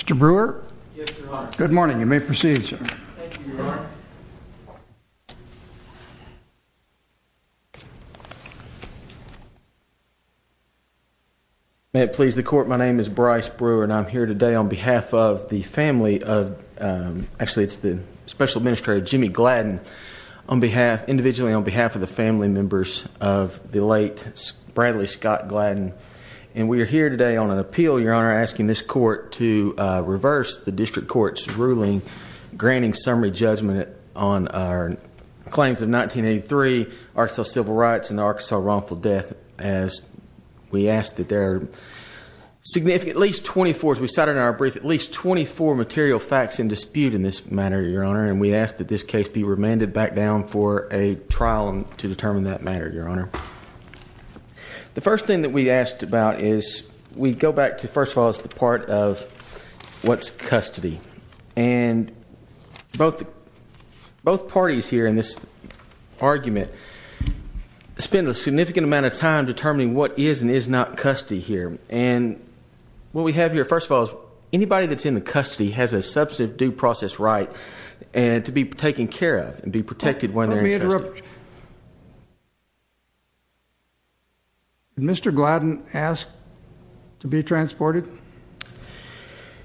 Mr. Brewer? Yes, Your Honor. Good morning. You may proceed, sir. Thank you, Your Honor. May it please the Court, my name is Bryce Brewer and I'm here today on behalf of the family of actually it's the Special Administrator Jimmy Gladden individually on behalf of the family members of the late Bradley Scott Gladden and we are here today on an appeal, Your Honor, and we are asking this Court to reverse the District Court's ruling granting summary judgment on our claims of 1983 Arkansas Civil Rights and the Arkansas wrongful death as we ask that there are at least 24, as we cited in our brief, at least 24 material facts in dispute in this matter, Your Honor, and we ask that this case be remanded back down for a trial to determine that matter, Your Honor. The first thing that we asked about is we go back to, first of all, the part of what's custody and both parties here in this argument spend a significant amount of time determining what is and is not custody here and what we have here, first of all, is anybody that's in the custody has a substantive due process right to be taken care of and be protected when they're in custody. Let me interrupt. Mr. Gladden asked to be transported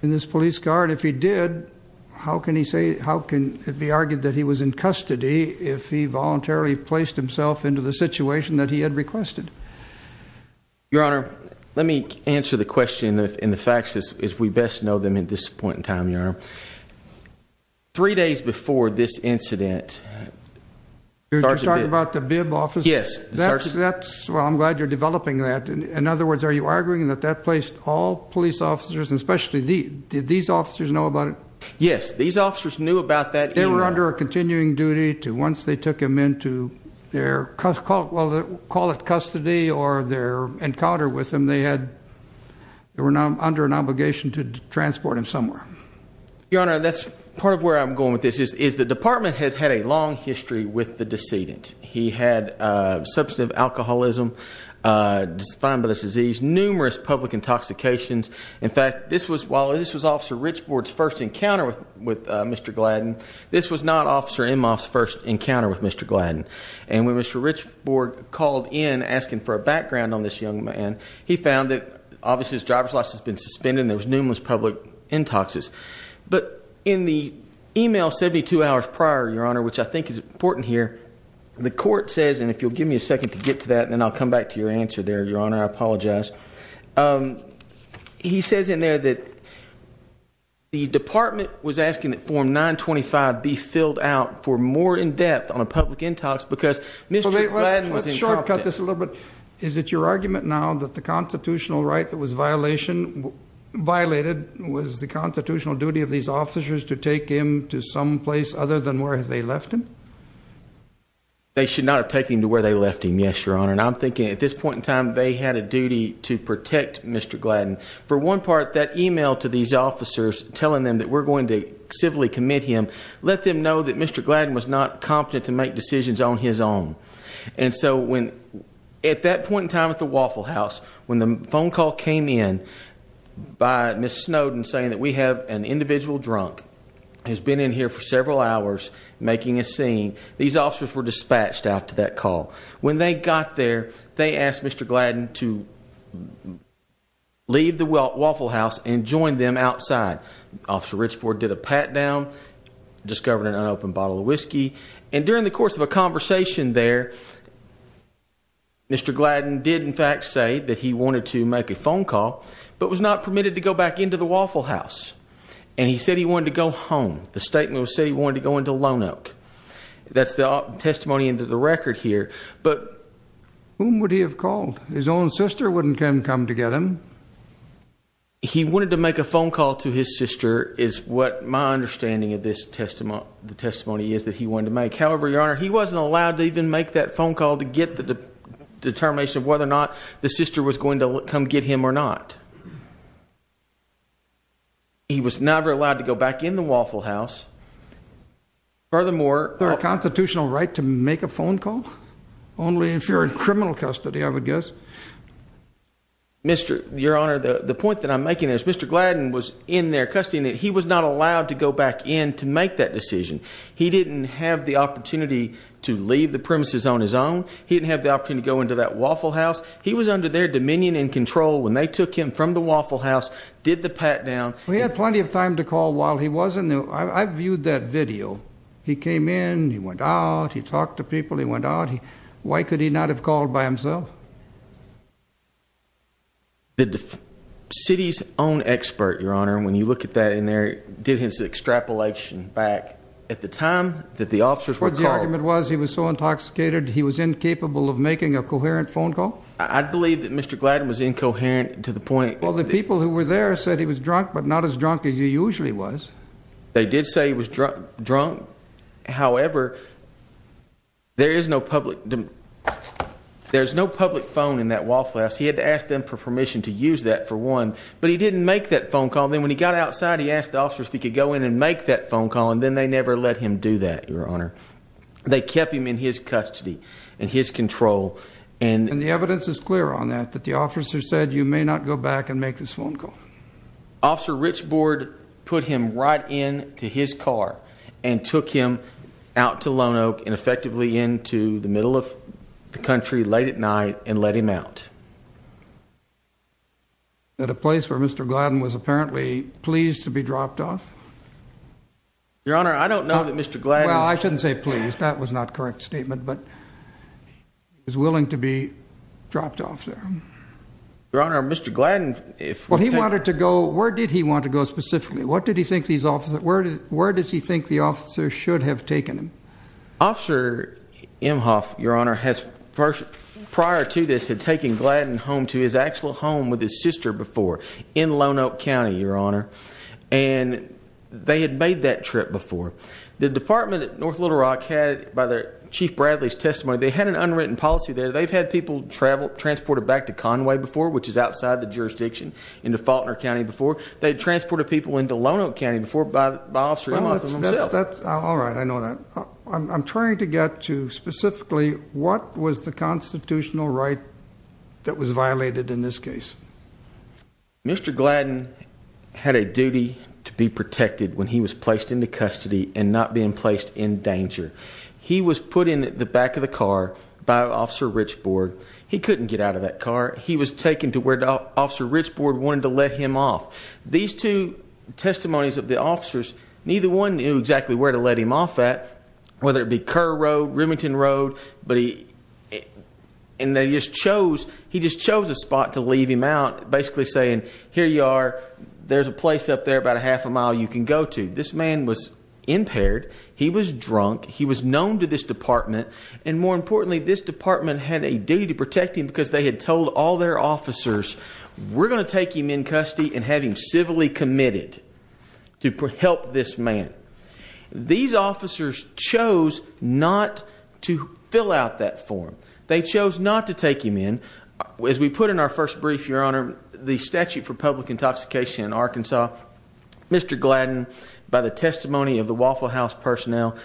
in this police guard. If he did, how can he say, how can it be argued that he was in custody if he voluntarily placed himself into the situation that he had requested? Your Honor, let me answer the question and the facts as we best know them at this point in time, Your Honor. Three days before this incident, Sergeant Bibb. You're talking about the Bibb officer? Yes. Well, I'm glad you're developing that. In other words, are you arguing that that placed all police officers, especially these, did these officers know about it? Yes, these officers knew about that. They were under a continuing duty to once they took him into their, call it custody or their encounter with him, they had, they were now under an obligation to transport him somewhere. Your Honor, that's part of where I'm going with this is, is the department has had a long history with the decedent. He had a substantive alcoholism, numerous public intoxications. In fact, this was, while this was Officer Richbord's first encounter with Mr. Gladden, this was not Officer Emhoff's first encounter with Mr. Gladden. And when Mr. Richbord called in asking for a background on this young man, he found that obviously his driver's license had been suspended and there was numerous public intoxicants. But in the email 72 hours prior, Your Honor, which I think is important here, the court says, and if you'll give me a second to get to that and then I'll come back to your answer there, Your Honor, I apologize. He says in there that the department was asking that Form 925 be filled out for more in depth on a public intox because Mr. Gladden was incompetent. Let's shortcut this a little bit. Is it your argument now that the constitutional right that was given to Mr. Gladden should not be the constitutional duty of these officers to take him to some place other than where they left him? They should not have taken him to where they left him. Yes, Your Honor. And I'm thinking at this point in time they had a duty to protect Mr. Gladden. For one part, that email to these officers telling them that we're going to civilly commit him, let them know that Mr. Gladden was not competent to make decisions on his own. And so when at that point in time at the Waffle House, when the phone call came in by Ms. Snowden saying that we have an individual drunk who's been in here for several hours making a scene, these officers were dispatched out to that call. When they got there, they asked Mr. Gladden to leave the Waffle House and join them outside. Officer Richport did a pat down, discovered an unopened bottle of whiskey, and during the course of a conversation there, Mr. Gladden did in fact say that he wanted to make a phone call, but was not permitted to go back into the Waffle House. And he said he wanted to go home. The statement said he wanted to go into Lone Oak. That's the testimony into the record here, but whom would he have called? His own sister wouldn't come to get him. He wanted to make a phone call to his sister is what my understanding of the testimony is that he wanted to make. However, Your Honor, he wasn't allowed to even make that phone call to get the determination of whether or not the sister was going to come get him or not. He was never allowed to go back in the Waffle House. Furthermore... Is there a constitutional right to make a phone call? Only if you're in criminal custody, I would guess. Your Honor, the point that I'm making is Mr. Gladden was in their custody, and he was not allowed to go back in to make that decision. He didn't have the opportunity to leave the premises on his own. He didn't have the opportunity to go into that Waffle House. He was under their dominion and control when they took him from the Waffle House, did the pat-down. He had plenty of time to call while he was in there. I viewed that video. He came in, he went out, he talked to people, he went out. Why could he not have called by himself? The city's own expert, Your Honor, when you look at that in there, did his extrapolation back at the time that the officers were called. What the argument was, he was so intoxicated he was incapable of making a coherent phone call? I believe that Mr. Gladden was incoherent to the point... Well, the people who were there said he was drunk, but not as drunk as he usually was. They did say he was drunk. However, there is no public... There's no public phone in that Waffle House. He had to ask them for permission to use that, for one. But he didn't make that phone call. If the officers could go in and make that phone call, then they never let him do that, Your Honor. They kept him in his custody, in his control. And the evidence is clear on that, that the officers said, you may not go back and make this phone call. Officer Richbord put him right in to his car and took him out to Lone Oak and effectively into the middle of the country, late at night, and let him out. At a place where Mr. Gladden was apparently pleased to be dropped off? Your Honor, I don't know that Mr. Gladden... Well, I shouldn't say pleased. That was not a correct statement, but he was willing to be dropped off there. Your Honor, Mr. Gladden... Well, he wanted to go... Where did he want to go specifically? What did he think these officers... Where does he think the officers should have taken him? Officer Emhoff, Your Honor, has prior to this had taken Gladden home to his actual home with his sister before in Lone Oak County, Your Honor. They had made that trip before. The department at North Little Rock had, by Chief Bradley's testimony, they had an unwritten policy there. They've had people transported back to Conway before, which is outside the jurisdiction, into Faulconer County before. They had transported people into Lone Oak County before by Officer Emhoff and himself. All right, I know that. I'm trying to get to specifically what was the constitutional right that was violated in this case. Mr. Gladden had a duty to be protected when he was placed into custody and not being placed in danger. He was put in the back of the car by Officer Richbord. He couldn't get out of that car. He was taken to where Officer Richbord wanted to let him off. These two testimonies of the officers, neither one knew exactly where to let him off at, whether it be Kerr Road, Remington Road, but he... he just chose a spot to leave him out, basically saying, here you are, there's a place up there about a half a mile you can go to. This man was impaired, he was drunk, he was known to this department, and more importantly, this department had a duty to protect him because they had told all their officers, we're going to take him in custody and have him civilly committed to help this man. These officers chose not to fill out that form. They chose not to take him in. As we put in our first brief, Your Honor, the statute for public intoxication in Arkansas, Mr. Gladden, by the testimony of the Waffle House personnel,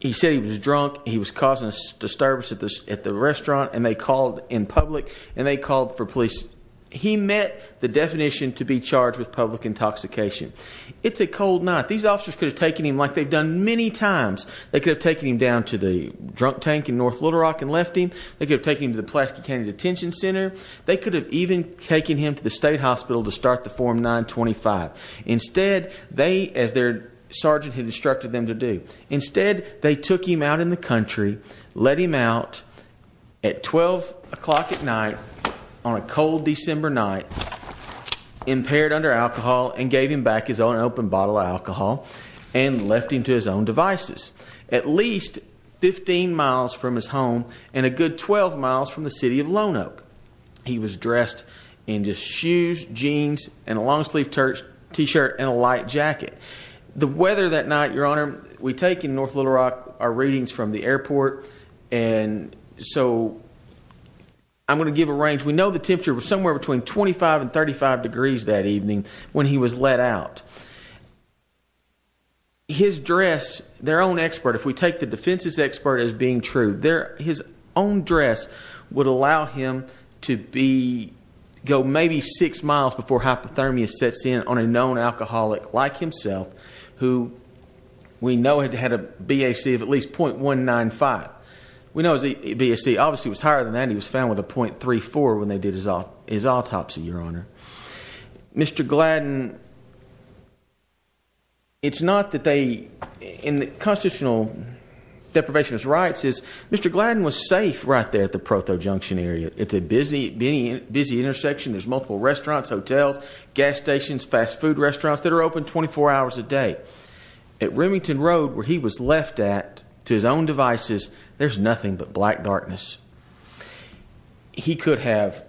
he said he was drunk, he was causing a disturbance at the restaurant, and they called in public, and they called for police. He met the definition to be charged with public intoxication. It's a cold night. These officers could have taken him like they've done many times. They could have taken him down to the hospital. They could have taken him to the Pulaski County Detention Center. They could have even taken him to the state hospital to start the Form 925. Instead, they, as their sergeant had instructed them to do, instead they took him out in the country, let him out at 12 o'clock at night, on a cold December night, impaired under alcohol, and gave him back his own open bottle of alcohol, and left him to his own devices. At least 15 miles from his home, and a good 12 miles from the city of Lone Oak. He was dressed in just shoes, jeans, and a long-sleeved t-shirt and a light jacket. The weather that night, Your Honor, we take in North Little Rock our readings from the airport, and so I'm going to give a range. We know the temperature was somewhere between 25 and 35 degrees that evening when he was let out. His dress, their own expert, if we take the defense's expert as being true, his own dress would allow him to go maybe 6 miles before hypothermia sets in on a known alcoholic like himself, who we know had a BAC of at least .195. We know his BAC obviously was higher than that. He was found with a .34 when they did his autopsy, Your Honor. Mr. Gladden, it's not that they, constitutional deprivationist rights is Mr. Gladden was safe right there at the Proto Junction area. It's a busy intersection. There's multiple restaurants, hotels, gas stations, fast food restaurants that are open 24 hours a day. At Remington Road, where he was left at to his own devices, there's nothing but black darkness. He could have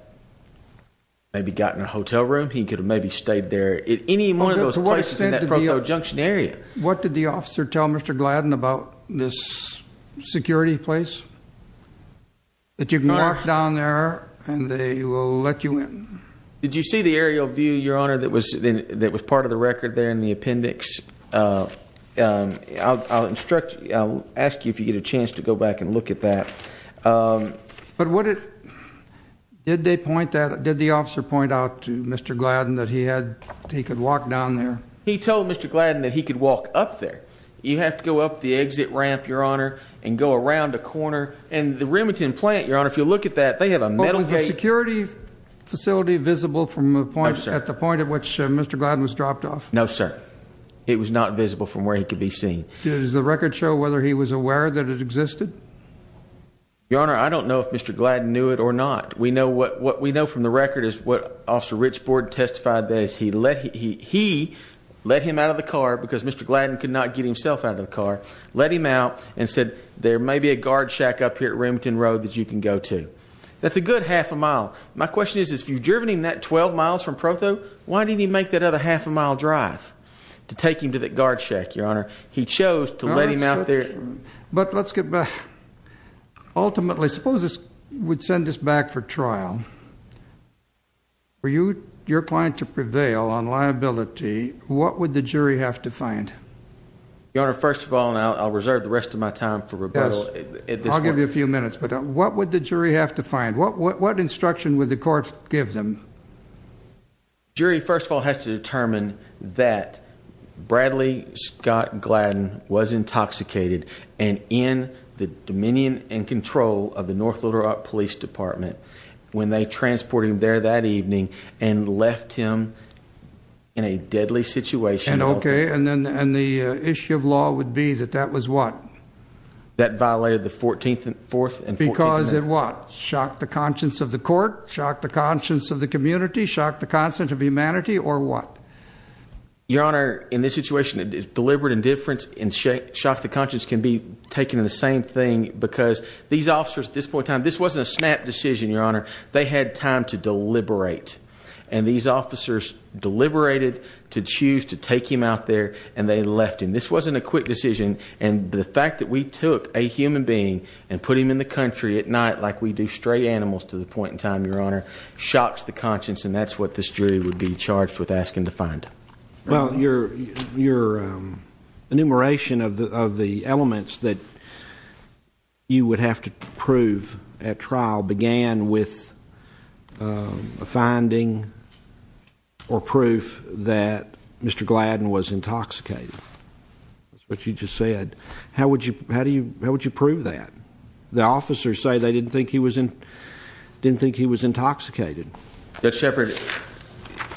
maybe gotten a hotel room. He could have maybe stayed there at any one of those places in that Proto Junction area. What did the officer tell Mr. Gladden about this security place? That you can walk down there and they will let you in? Did you see the aerial view, Your Honor, that was part of the record there in the appendix? I'll ask you if you get a chance to go back and look at that. But what did they point at? Did the officer point out to Mr. Gladden that he could walk down there? He told Mr. Gladden that he could walk up there. You have to go up the exit ramp, Your Honor, and go around a corner. And the Remington plant, Your Honor, if you look at that, they have a metal gate. Was the security facility visible at the point at which Mr. Gladden was dropped off? No, sir. It was not visible from where he could be seen. Does the record show whether he was aware that it existed? Your Honor, I don't know if Mr. Gladden knew it or not. What we know from the record is what Officer Rich Borden testified, that he let him out of the car, because Mr. Gladden could not get himself out of the car, let him out and said, there may be a guard shack up here at Remington Road that you can go to. That's a good half a mile. My question is, if you've driven him that 12 miles from Protho, why didn't he make that other half a mile drive to take him to that guard shack, Your Honor? He chose to let him out there. But let's get back. Ultimately, suppose this would send us back for trial. For your client to prevail on liability, what would the jury have to find? Your Honor, first of all, and I'll reserve the rest of my time for rebuttal at this point. I'll give you a few minutes, but what would the jury have to find? What instruction would the court give them? The jury, first of all, has to determine that Bradley Scott Gladden was intoxicated and in the dominion and control of the North Little Rock Police Department when they transported him there that evening and left him in a deadly situation. And the issue of law would be that that was what? That violated the 14th Amendment. Because it what? Shocked the conscience of the court? Shocked the conscience of the community? Shocked the conscience of humanity? Or what? Your Honor, in this situation, deliberate indifference and shock the conscience can be taken in the same thing because these officers at this point in time, this wasn't a snap decision, Your Honor. They had time to deliberate. And these officers deliberated to choose to take him out there and they left him. This wasn't a quick decision and the fact that we took a human being and put him in the country at night like we do stray animals to the point in time, Your Honor, shocks the conscience and that's what this jury would be charged with asking to find. Well, your enumeration of the elements that you would have to prove at trial began with a finding or proof that Mr. Gladden was intoxicated. That's what you just said. How would you prove that? The officers say they didn't think he was intoxicated. Judge Shepard,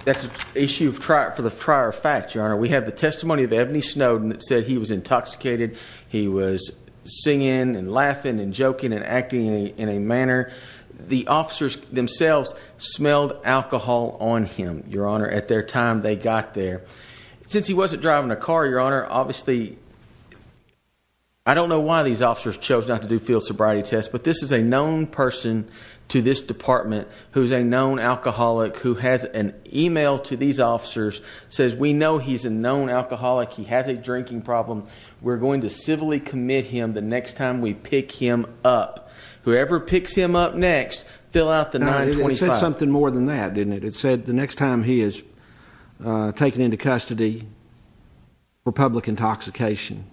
that's an issue for the prior fact, Your Honor. We have the testimony of Ebony Snowden that said he was intoxicated. He was singing and laughing and joking and acting in a manner the officers themselves smelled alcohol on him, Your Honor, at their time they got there. Since he wasn't driving a car, Your Honor, obviously, I don't know why these officers chose not to do field sobriety tests, but this is a known person to this department who's a known alcoholic who has an email to these officers says, we know he's a known alcoholic. He has a drinking problem. We're going to civilly commit him the next time we pick him up. Whoever picks him up next, fill out the 925. It said something more than that, didn't it? It said the next time he is taken into custody for public intoxication.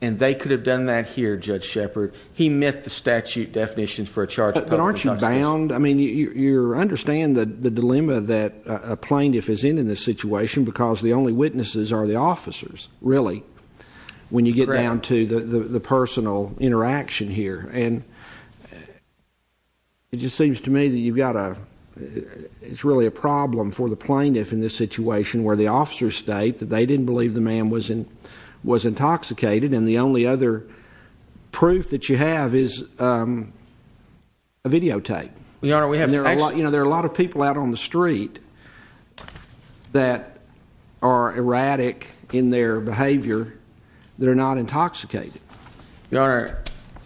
And they could have done that here, Judge Shepard. He met the statute definitions for a charge of public intoxication. But aren't you bound? I mean, you understand the dilemma that a plaintiff is in in this situation because the only witnesses are the officers, really, when you get down to the personal interaction here. And it just seems to me that you've got a, it's really a problem for the plaintiff in this situation where the officers state that they didn't believe the man was intoxicated and the only other proof that you have is a videotape. There are a lot of people out on the street that are erratic in their behavior that are not intoxicated. Your Honor,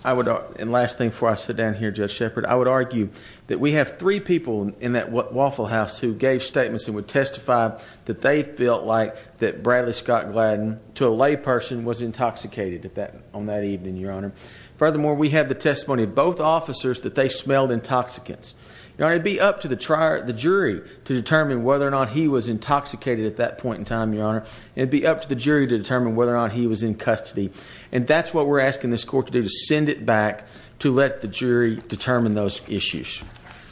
I would, and last thing before I sit down here, Judge Shepard, I would argue that we have three people in that Waffle House who gave statements and would testify that they felt like that Bradley Scott Gladden, to a lay person, was intoxicated on that evening, Your Honor. Furthermore, we have the testimony of both officers that they smelled intoxicants. Your Honor, it would be up to the jury to determine whether or not he was intoxicated at that point in time, Your Honor. It would be up to the jury to determine whether or not he was in custody. And that's what we're asking this court to do, to send it back to let the jury determine those issues.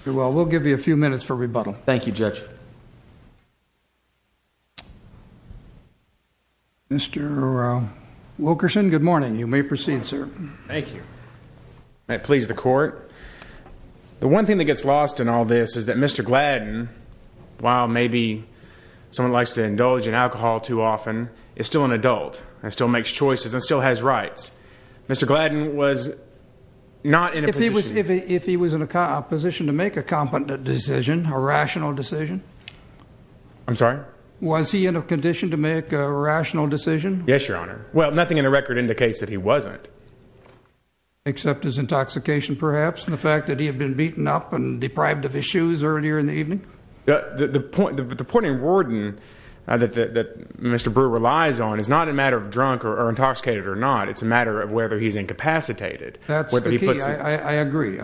Very well. We'll give you a few minutes for rebuttal. Thank you, Judge. Mr. Wilkerson, good morning. You may proceed, sir. Thank you. May it please the court. The one thing that gets lost in all this is that Mr. Gladden, while maybe someone likes to indulge in alcohol too often, is still an adult and still makes choices and still has rights. Mr. Gladden was not in a position... If he was in a position to make a competent decision, a rational decision... I'm sorry? Was he in a condition to make a rational decision? Yes, Your Honor. Well, nothing in the record indicates that he wasn't. Except his intoxication, perhaps, and the fact that he had been beaten up and deprived of his shoes earlier in the evening? The point in Warden that Mr. Brewer relies on is not a matter of drunk or intoxicated or not. It's a matter of whether he's incapacitated. That's the key. I agree.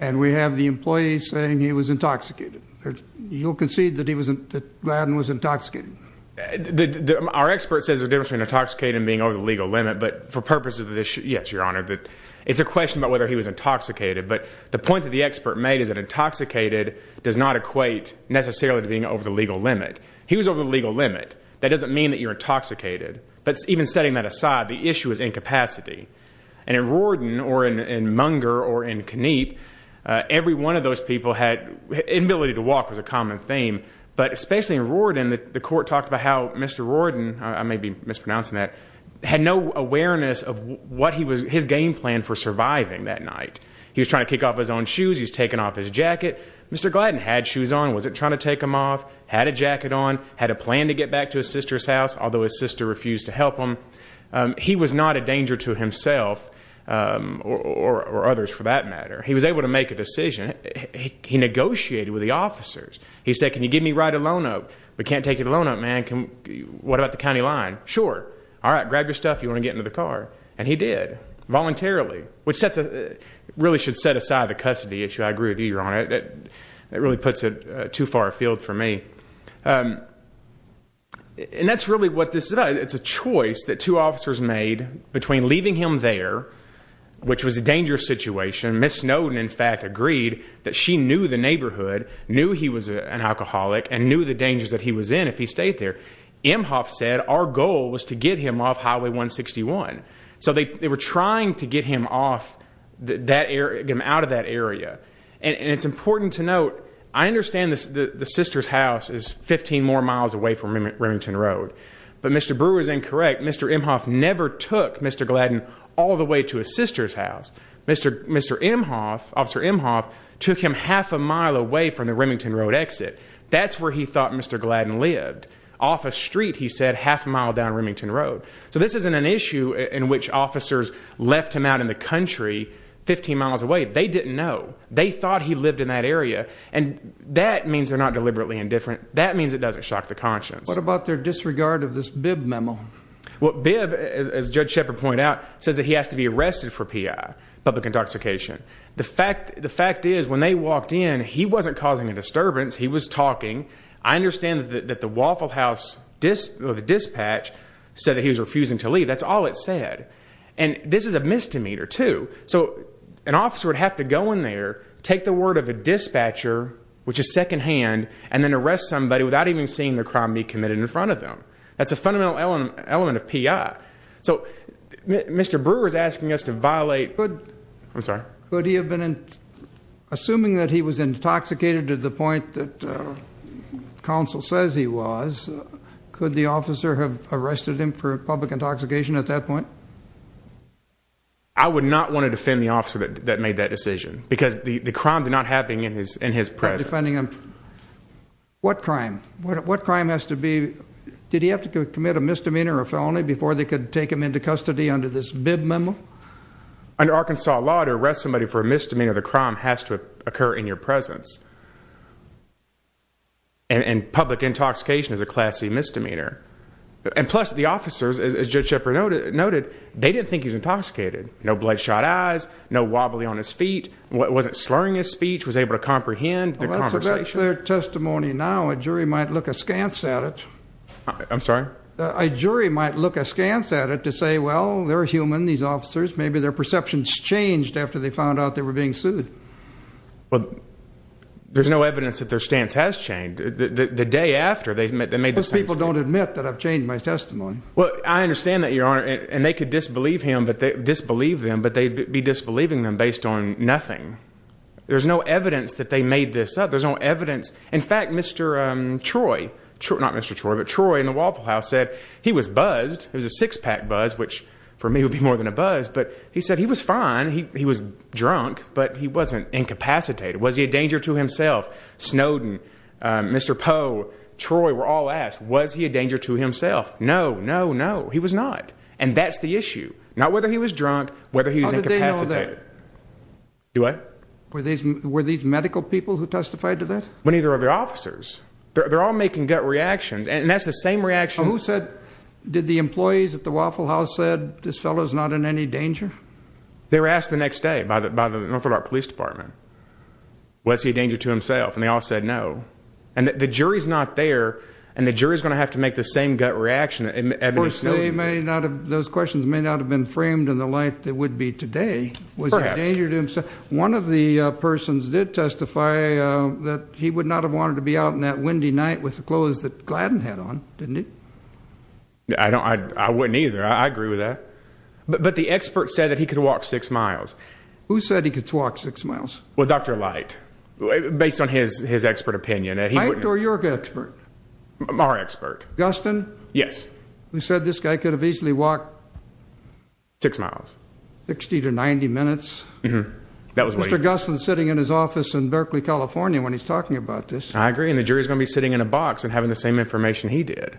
And we have the employee saying he was intoxicated. You'll say he was intoxicated. Our expert says there's a difference between intoxicated and being over the legal limit, but for purposes of this... Yes, Your Honor. It's a question about whether he was intoxicated, but the point that the expert made is that intoxicated does not equate necessarily to being over the legal limit. He was over the legal limit. That doesn't mean that you're intoxicated, but even setting that aside, the issue is incapacity. And in Warden or in Munger or in Kniep, every one of those people had... Inability to walk was a problem. The court talked about how Mr. Warden, I may be mispronouncing that, had no awareness of what his game plan for surviving that night. He was trying to kick off his own shoes. He was taking off his jacket. Mr. Gladden had shoes on. Wasn't trying to take them off. Had a jacket on. Had a plan to get back to his sister's house, although his sister refused to help him. He was not a danger to himself or others for that matter. He was able to make a decision. He negotiated with the officers. He said, can you give me a ride to Lone Oak? We can't take you to Lone Oak, man. What about the county line? Sure. Alright, grab your stuff if you want to get into the car. And he did. Voluntarily. Which really should set aside the custody issue. I agree with you, Your Honor. That really puts it too far afield for me. And that's really what this does. It's a choice that two officers made between leaving him there, which was a dangerous situation. Ms. Snowden, in fact, agreed that she knew the neighborhood, knew he was an alcoholic, and knew the dangers that he was in if he stayed there. Emhoff said our goal was to get him off Highway 161. So they were trying to get him off that area, get him out of that area. And it's important to note I understand the sister's house is 15 more miles away from Remington Road. But Mr. Brewer is incorrect. Mr. Emhoff never took Mr. Gladden all the way to his sister's house. Mr. Emhoff took him half a mile away from the Remington Road exit. That's where he thought Mr. Gladden lived. Off a street, he said, half a mile down Remington Road. So this isn't an issue in which officers left him out in the country 15 miles away. They didn't know. They thought he lived in that area. And that means they're not deliberately indifferent. That means it doesn't shock the conscience. What about their disregard of this Bibb memo? Bibb, as Judge Shepard pointed out, says that he has to be arrested for P.I. public intoxication. The fact is, when they walked in, he wasn't causing a disturbance. He was talking. I understand that the Waffle House dispatch said that he was refusing to leave. That's all it said. And this is a misdemeanor, too. So an officer would have to go in there, take the word of a dispatcher, which is secondhand, and then arrest somebody without even seeing the crime be committed in front of them. That's a fundamental element of P.I. So Mr. Brewer is asking us to violate Assuming that he was intoxicated to the point that counsel says he was, could the officer have arrested him for public intoxication at that point? I would not want to defend the officer that made that decision. Because the crime did not happen in his presence. What crime? What crime has to be... Did he have to take him into custody under this Bibb memo? Under Arkansas law to arrest somebody for a misdemeanor, the crime has to occur in your presence. And public intoxication is a classy misdemeanor. And plus, the officers, as Judge Shepard noted, they didn't think he was intoxicated. No bloodshot eyes, no wobbly on his feet, wasn't slurring his speech, was able to comprehend the conversation. That's about their testimony now. A jury might look askance at it. I'm sorry? A jury might look askance at it to say, well, they're human, these officers, maybe their perceptions changed after they found out they were being sued. Well, there's no evidence that their stance has changed. The day after, they made the same statement. Most people don't admit that I've changed my testimony. Well, I understand that, Your Honor, and they could disbelieve him, disbelieve them, but they'd be disbelieving them based on nothing. There's no evidence that they made this up. There's no evidence. In fact, Mr. Troy, not Mr. Troy, but Troy in the Waffle House said he was buzzed. It was a six-pack buzz, which for me would be more than a buzz, but he said he was fine. He was drunk, but he wasn't incapacitated. Was he a danger to himself? Snowden, Mr. Poe, Troy were all asked, was he a danger to himself? No, no, no, he was not. And that's the issue. Not whether he was drunk, whether he was incapacitated. How did they know that? Do what? Were these medical people who testified to that? Well, neither are the officers. They're all making gut reactions, and that's the same reaction Who said, did the employees at the Waffle House said, this fellow's not in any danger? They were asked the next day by the North Dakota Police Department. Was he a danger to himself? And they all said no. And the jury's not there, and the jury's going to have to make the same gut reaction that Ebony Snowden... Of course, those questions may not have been framed in the light they would be today. Perhaps. Was he a danger to himself? One of the persons did testify that he would not have wanted to be out on that windy night with the clothes that Gladden had on, didn't he? I wouldn't either. I agree with that. But the expert said that he could walk 6 miles. Who said he could walk 6 miles? Well, Dr. Light. Based on his expert opinion. Light or your expert? Our expert. Gustin? Yes. Who said this guy could have easily walked 6 miles. 60 to 90 minutes? Mr. Gustin's sitting in his office in Berkeley, California when he's talking about this. I agree, and the jury's going to be sitting in a box and having the same information he did.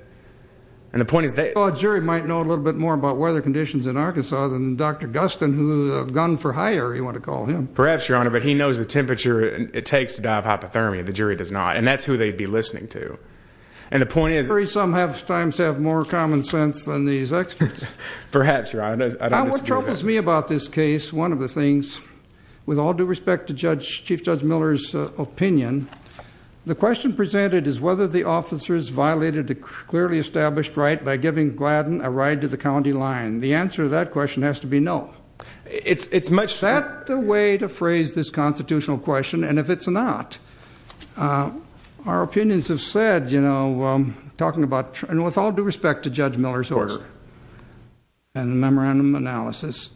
And the point is that... Well, a jury might know a little bit more about weather conditions in Arkansas than Dr. Gustin, who's a gun for hire, you want to call him. Perhaps, Your Honor, but he knows the temperature it takes to die of hypothermia. The jury does not. And that's who they'd be listening to. And the point is... I'm afraid some have more common sense than these experts. Perhaps, Your Honor. What troubles me about this case, one of the things, with all due respect to Chief Judge Miller's opinion, the question presented is whether the officer's violated a clearly established right by giving Gladden a ride to the county line. The answer to that question has to be no. Is that the way to phrase this constitutional question? And if it's not, our opinions have said in the memorandum analysis,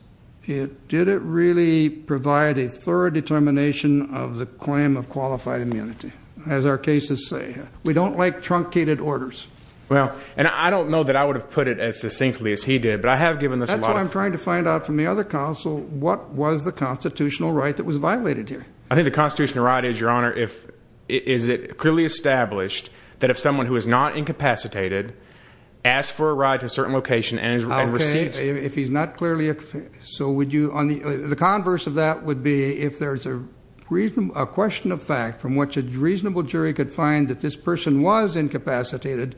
did it really provide a thorough determination of the claim of qualified immunity, as our cases say? We don't like truncated orders. Well, and I don't know that I would have put it as succinctly as he did, but I have given this a lot of... That's why I'm trying to find out from the other counsel, what was the constitutional right that was violated here? I think the constitutional right is, Your Honor, is it clearly established that if someone who is not incapacitated asks for a ride to a certain location and receives... Okay, if he's not clearly... So would you... The converse of that would be if there's a question of fact from which a reasonable jury could find that this person was incapacitated,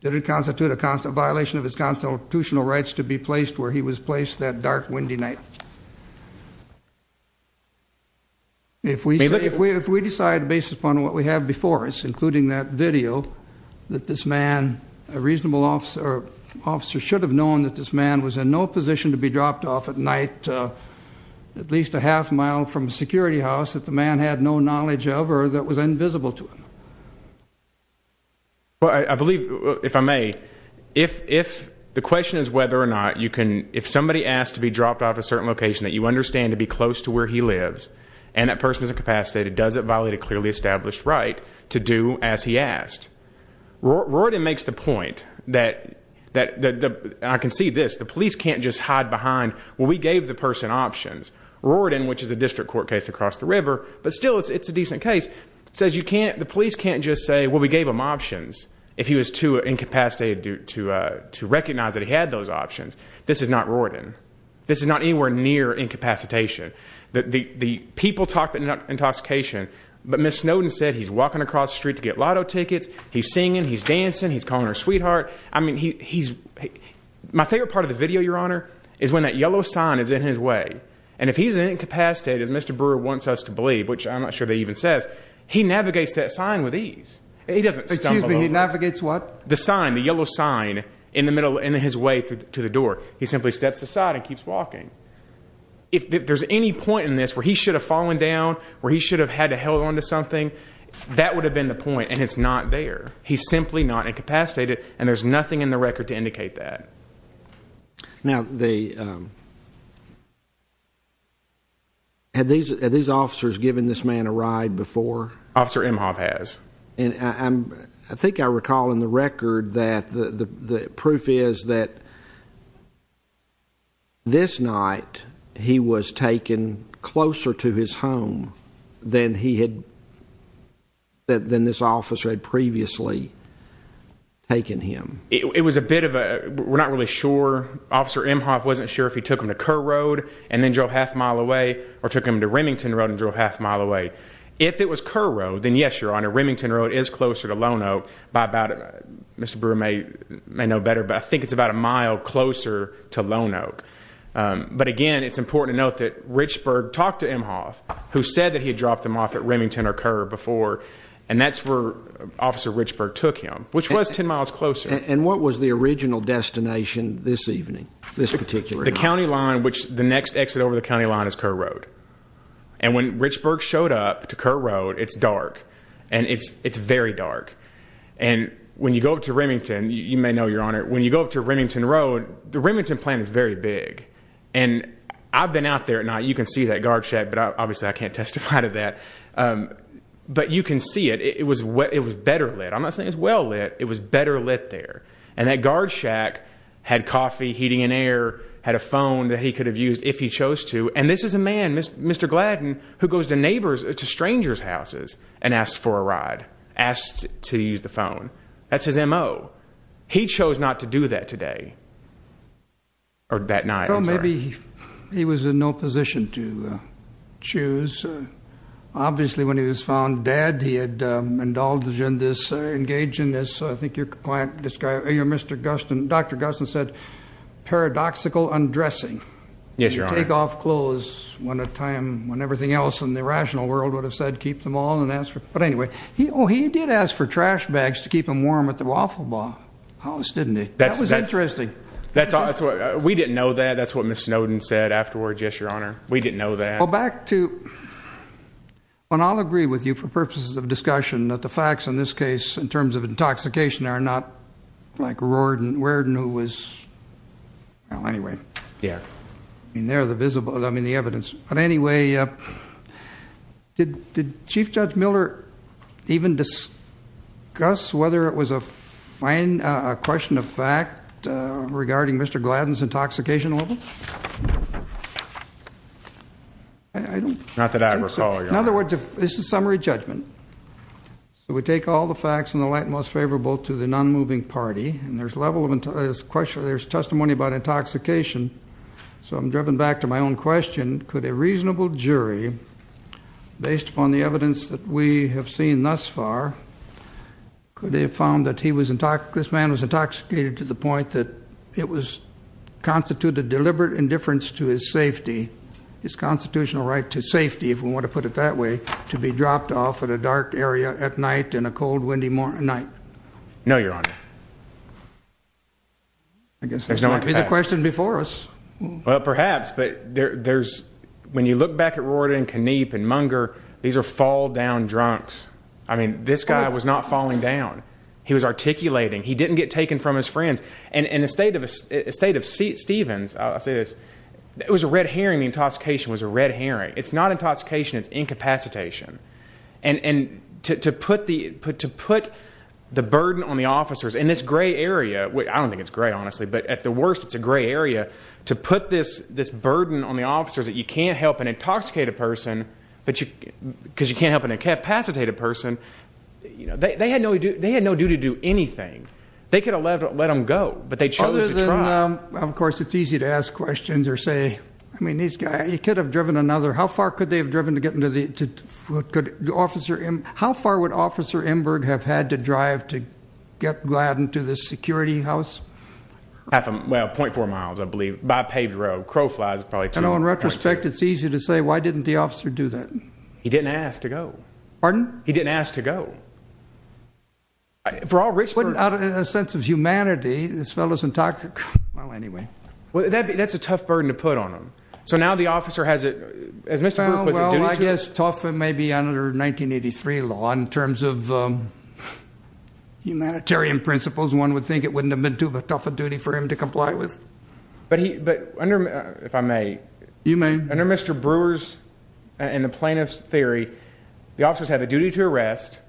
did it constitute a violation of his constitutional rights to be placed where he was placed that dark, windy night? If we decide based upon what we have before us, including that a reasonable officer should have known that this man was in no position to be dropped off at night at least a half mile from a security house that the man had no knowledge of or that was invisible to him? Well, I believe, if I may, if the question is whether or not you can... If somebody asks to be dropped off at a certain location that you understand to be close to where he lives, and that person is incapacitated, does it violate a clearly established right to do as he asked? Royden makes the point that... I can see this. The police can't just hide behind, well, we gave the person options. Royden, which is a district court case across the river, but still it's a decent case, says you can't... The police can't just say, well, we gave him options if he was too incapacitated to recognize that he had those options. This is not Royden. This is not anywhere near incapacitation. The people talk about intoxication, but Ms. Snowden said he's walking across the street to get lotto tickets, he's singing, he's dancing, he's calling her sweetheart. I mean, he's... My favorite part of the video, Your Honor, is when that yellow sign is in his way. And if he's incapacitated, as Mr. Brewer wants us to believe, which I'm not sure they even says, he navigates that sign with ease. He doesn't stumble over. Excuse me, he navigates what? The sign, the yellow sign in the middle, in his way to the door. He simply steps aside and keeps walking. If there's any point in this where he should have fallen down, where he should have had to hold on to something, that would have been the point, and it's not there. He's simply not incapacitated, and there's nothing in the record to indicate that. Now, the... Had these officers given this man a ride before? Officer Emhoff has. I think I recall in the record that the proof is that this night, he was taken closer to his home than he had... than this officer had previously taken him. It was a bit of a... We're not really sure. Officer Emhoff wasn't sure if he took him to Kerr Road and then drove half a mile away, or took him to Remington Road and drove half a mile away. If it was Kerr Road, then yes, Your Honor, Remington Road is closer to Lone Oak by about... Mr. Brewer may know better, but I think it's about a mile closer to Lone Oak. But again, it's important to note that Richburg talked to Emhoff who said that he had dropped him off at Remington or Kerr before, and that's where Officer Richburg took him, which was ten miles closer. And what was the original destination this evening, this particular night? The county line, which the next exit over the county line is Kerr Road. And when Richburg showed up to Kerr Road, it's dark, and it's very dark. And when you go up to Remington, you may know, Your Honor, when you go up to Remington Road, the Remington plant is very big. And I've been out there at night. You can see that guard shack, but obviously I can't testify to that. But you can see it. It was better lit. I'm not saying it was well lit. It was better lit there. And that guard shack had coffee, heating and air, had a phone that he could have used if he chose to. And this is a man, Mr. Gladden, who goes to strangers' houses and asks for a ride, asks to use the phone. That's his MO. He chose not to do that today. Or that night, I'm sorry. Well, maybe he was in no position to choose. Obviously, when he was found dead, he had indulged in this, engaged in this, I think your client described, Mr. Gustin, Dr. Gustin said, paradoxical undressing. Yes, Your Honor. Take off clothes when a time, when everything else in the rational world would have said, keep them on and ask for, but anyway. Oh, he did ask for clothes, didn't he? That was interesting. We didn't know that. That's what Ms. Snowden said afterward, yes, Your Honor. We didn't know that. Well, back to, and I'll agree with you for purposes of discussion that the facts in this case, in terms of intoxication, are not like Worden, who was, well, anyway. I mean, there are the visible, I mean, the evidence. But anyway, did Chief Judge Miller even discuss whether it was a question of fact regarding Mr. Gladden's intoxication level? Not that I recall, Your Honor. In other words, this is a summary judgment. So we take all the facts in the light most favorable to the non-moving party, and there's testimony about intoxication. So I'm driven back to my own question. Could a reasonable jury, based upon the evidence that we have seen thus far, could they have found that this man was intoxicated to the point that it was constituted deliberate indifference to his safety, his constitutional right to safety, if we want to put it that way, to be dropped off at a dark area at night in a cold, windy night? No, Your Honor. I guess that might be the question before us. Well, perhaps, but there's, when you look back at Worden and Kniep and Munger, these are fall-down drunks. I mean, this guy was not falling down. He was articulating. He didn't get taken from his friends. In the state of Stevens, it was a red herring, the intoxication was a red herring. It's not intoxication, it's incapacitation. And to put the burden on the officers in this gray area, I don't think it's gray, honestly, but at the worst, it's a gray area. To put this burden on the officers that you can't help an intoxicated person, because you can't help an incapacitated person, they had no duty to do anything. They could have let him go, but they chose to try. Of course, it's easy to ask questions or say, I mean, this guy, he could have driven another how far could they have driven to get into the how far would Officer Emberg have had to drive to get Gladden to the security house? Half a, well, .4 miles, I believe, by paved road. Crow flies, probably 2.2. In retrospect, it's easy to say, why didn't the officer do that? He didn't ask to go. Pardon? He didn't ask to go. For all rich persons. Without a sense of humanity, this fellow's intoxicated. Well, anyway. That's a tough burden to put on him. So now the officer has it, as Mr. Brook was a duty to him. Well, I guess tough maybe under 1983 law, in terms of humanitarian principles, one would think it wouldn't have been too tough a duty for him to under, if I may. You may. Under Mr. Brewer's and the plaintiff's theory, the officers have a duty to arrest,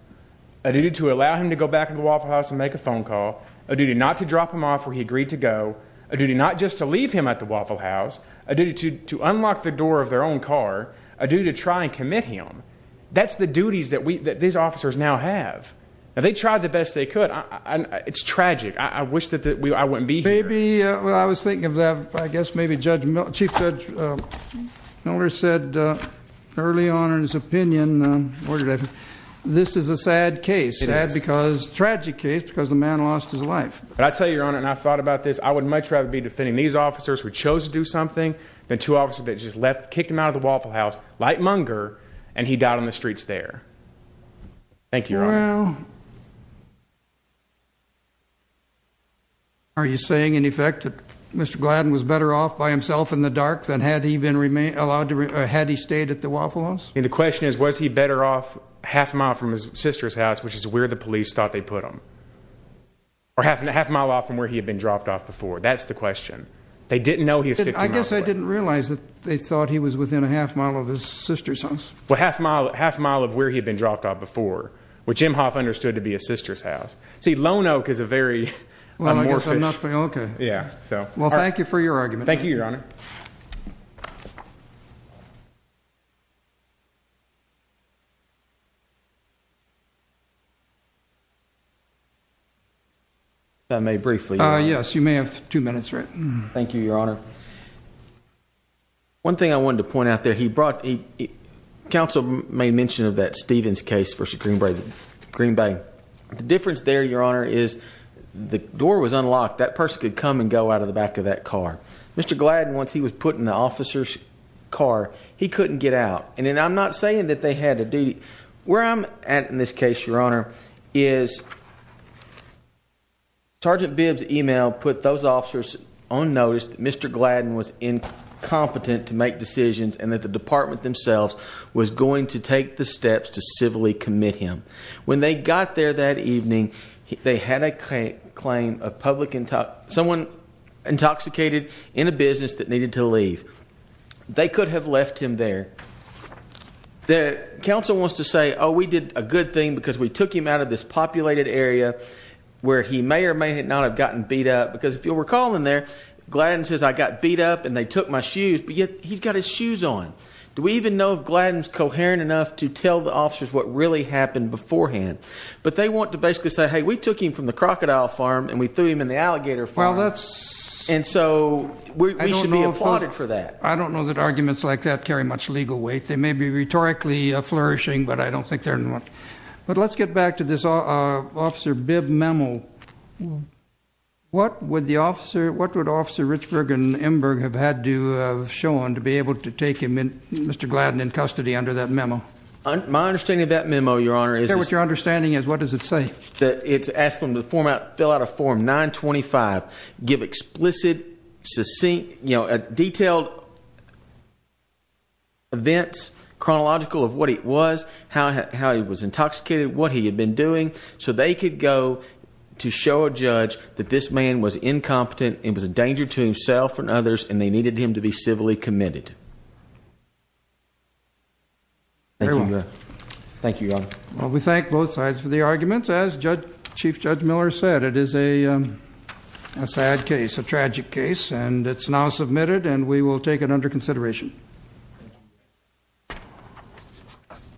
a duty to allow him to go back to the Waffle House and make a phone call, a duty not to drop him off where he agreed to go, a duty not just to leave him at the Waffle House, a duty to unlock the door of their own car, a duty to try and commit him. That's the duties that these officers now have. Now, they tried the best they could. It's tragic. I wish that I wouldn't be here. Well, I was thinking of that. I guess maybe Chief Judge Miller said early on in his opinion this is a sad case, a tragic case because the man lost his life. I tell you, Your Honor, and I've thought about this, I would much rather be defending these officers who chose to do something than two officers that just left, kicked him out of the Waffle House, light monger, and he died on the streets there. Thank you, Your Honor. Well... Are you saying, in effect, that Mr. Gladden was better off by himself in the dark than had he stayed at the Waffle House? The question is, was he better off half a mile from his sister's house, which is where the police thought they put him? Or half a mile off from where he had been dropped off before? That's the question. They didn't know he was 15 miles away. I guess I didn't realize that they thought he was within a half mile of his sister's house. Well, half a mile of where he had been dropped off before, which Imhoff understood to be his sister's house. See, Lone Oak is a very amorphous... Well, thank you for your argument. Thank you, Your Honor. If I may briefly... Yes, you may have two minutes, Rick. Thank you, Your Honor. One thing I wanted to point out there, he brought... Council made mention of that Stevens case versus Green Bay. The difference there, Your Honor, is the door was unlocked. That person could come and go out of the back of that car. Mr. Gladden, once he was put in the officer's car, he couldn't get out. And I'm not saying that they had a duty... Where I'm at in this case, Your Honor, is... Sergeant Bibb's email put those officers on notice that Mr. Gladden was incompetent to make decisions and that the department themselves was going to take the steps to civilly commit him. When they got there that evening, they had a claim of someone intoxicated in a business that needed to leave. They could have left him there. The council wants to say, oh, we did a good thing because we took him out of this populated area where he may or may not have gotten beat up. Because if you'll recall in there, Gladden says, I got beat up and they got his shoes on. Do we even know if Gladden's coherent enough to tell the officers what really happened beforehand? But they want to basically say, hey, we took him from the crocodile farm and we threw him in the alligator farm. And so we should be applauded for that. I don't know that arguments like that carry much legal weight. They may be rhetorically flourishing, but I don't think they're... But let's get back to this Officer Bibb memo. What would Officer Richburg and Mr. Gladden in custody under that memo? My understanding of that memo, Your Honor, is... What your understanding is, what does it say? It's asking them to fill out a form 925, give explicit succinct, detailed events, chronological of what it was, how he was intoxicated, what he had been doing, so they could go to show a judge that this man was incompetent and was a danger to himself and his family. Thank you, Your Honor. Well, we thank both sides for the arguments. As Chief Judge Miller said, it is a sad case, a tragic case, and it's now submitted and we will take it under consideration.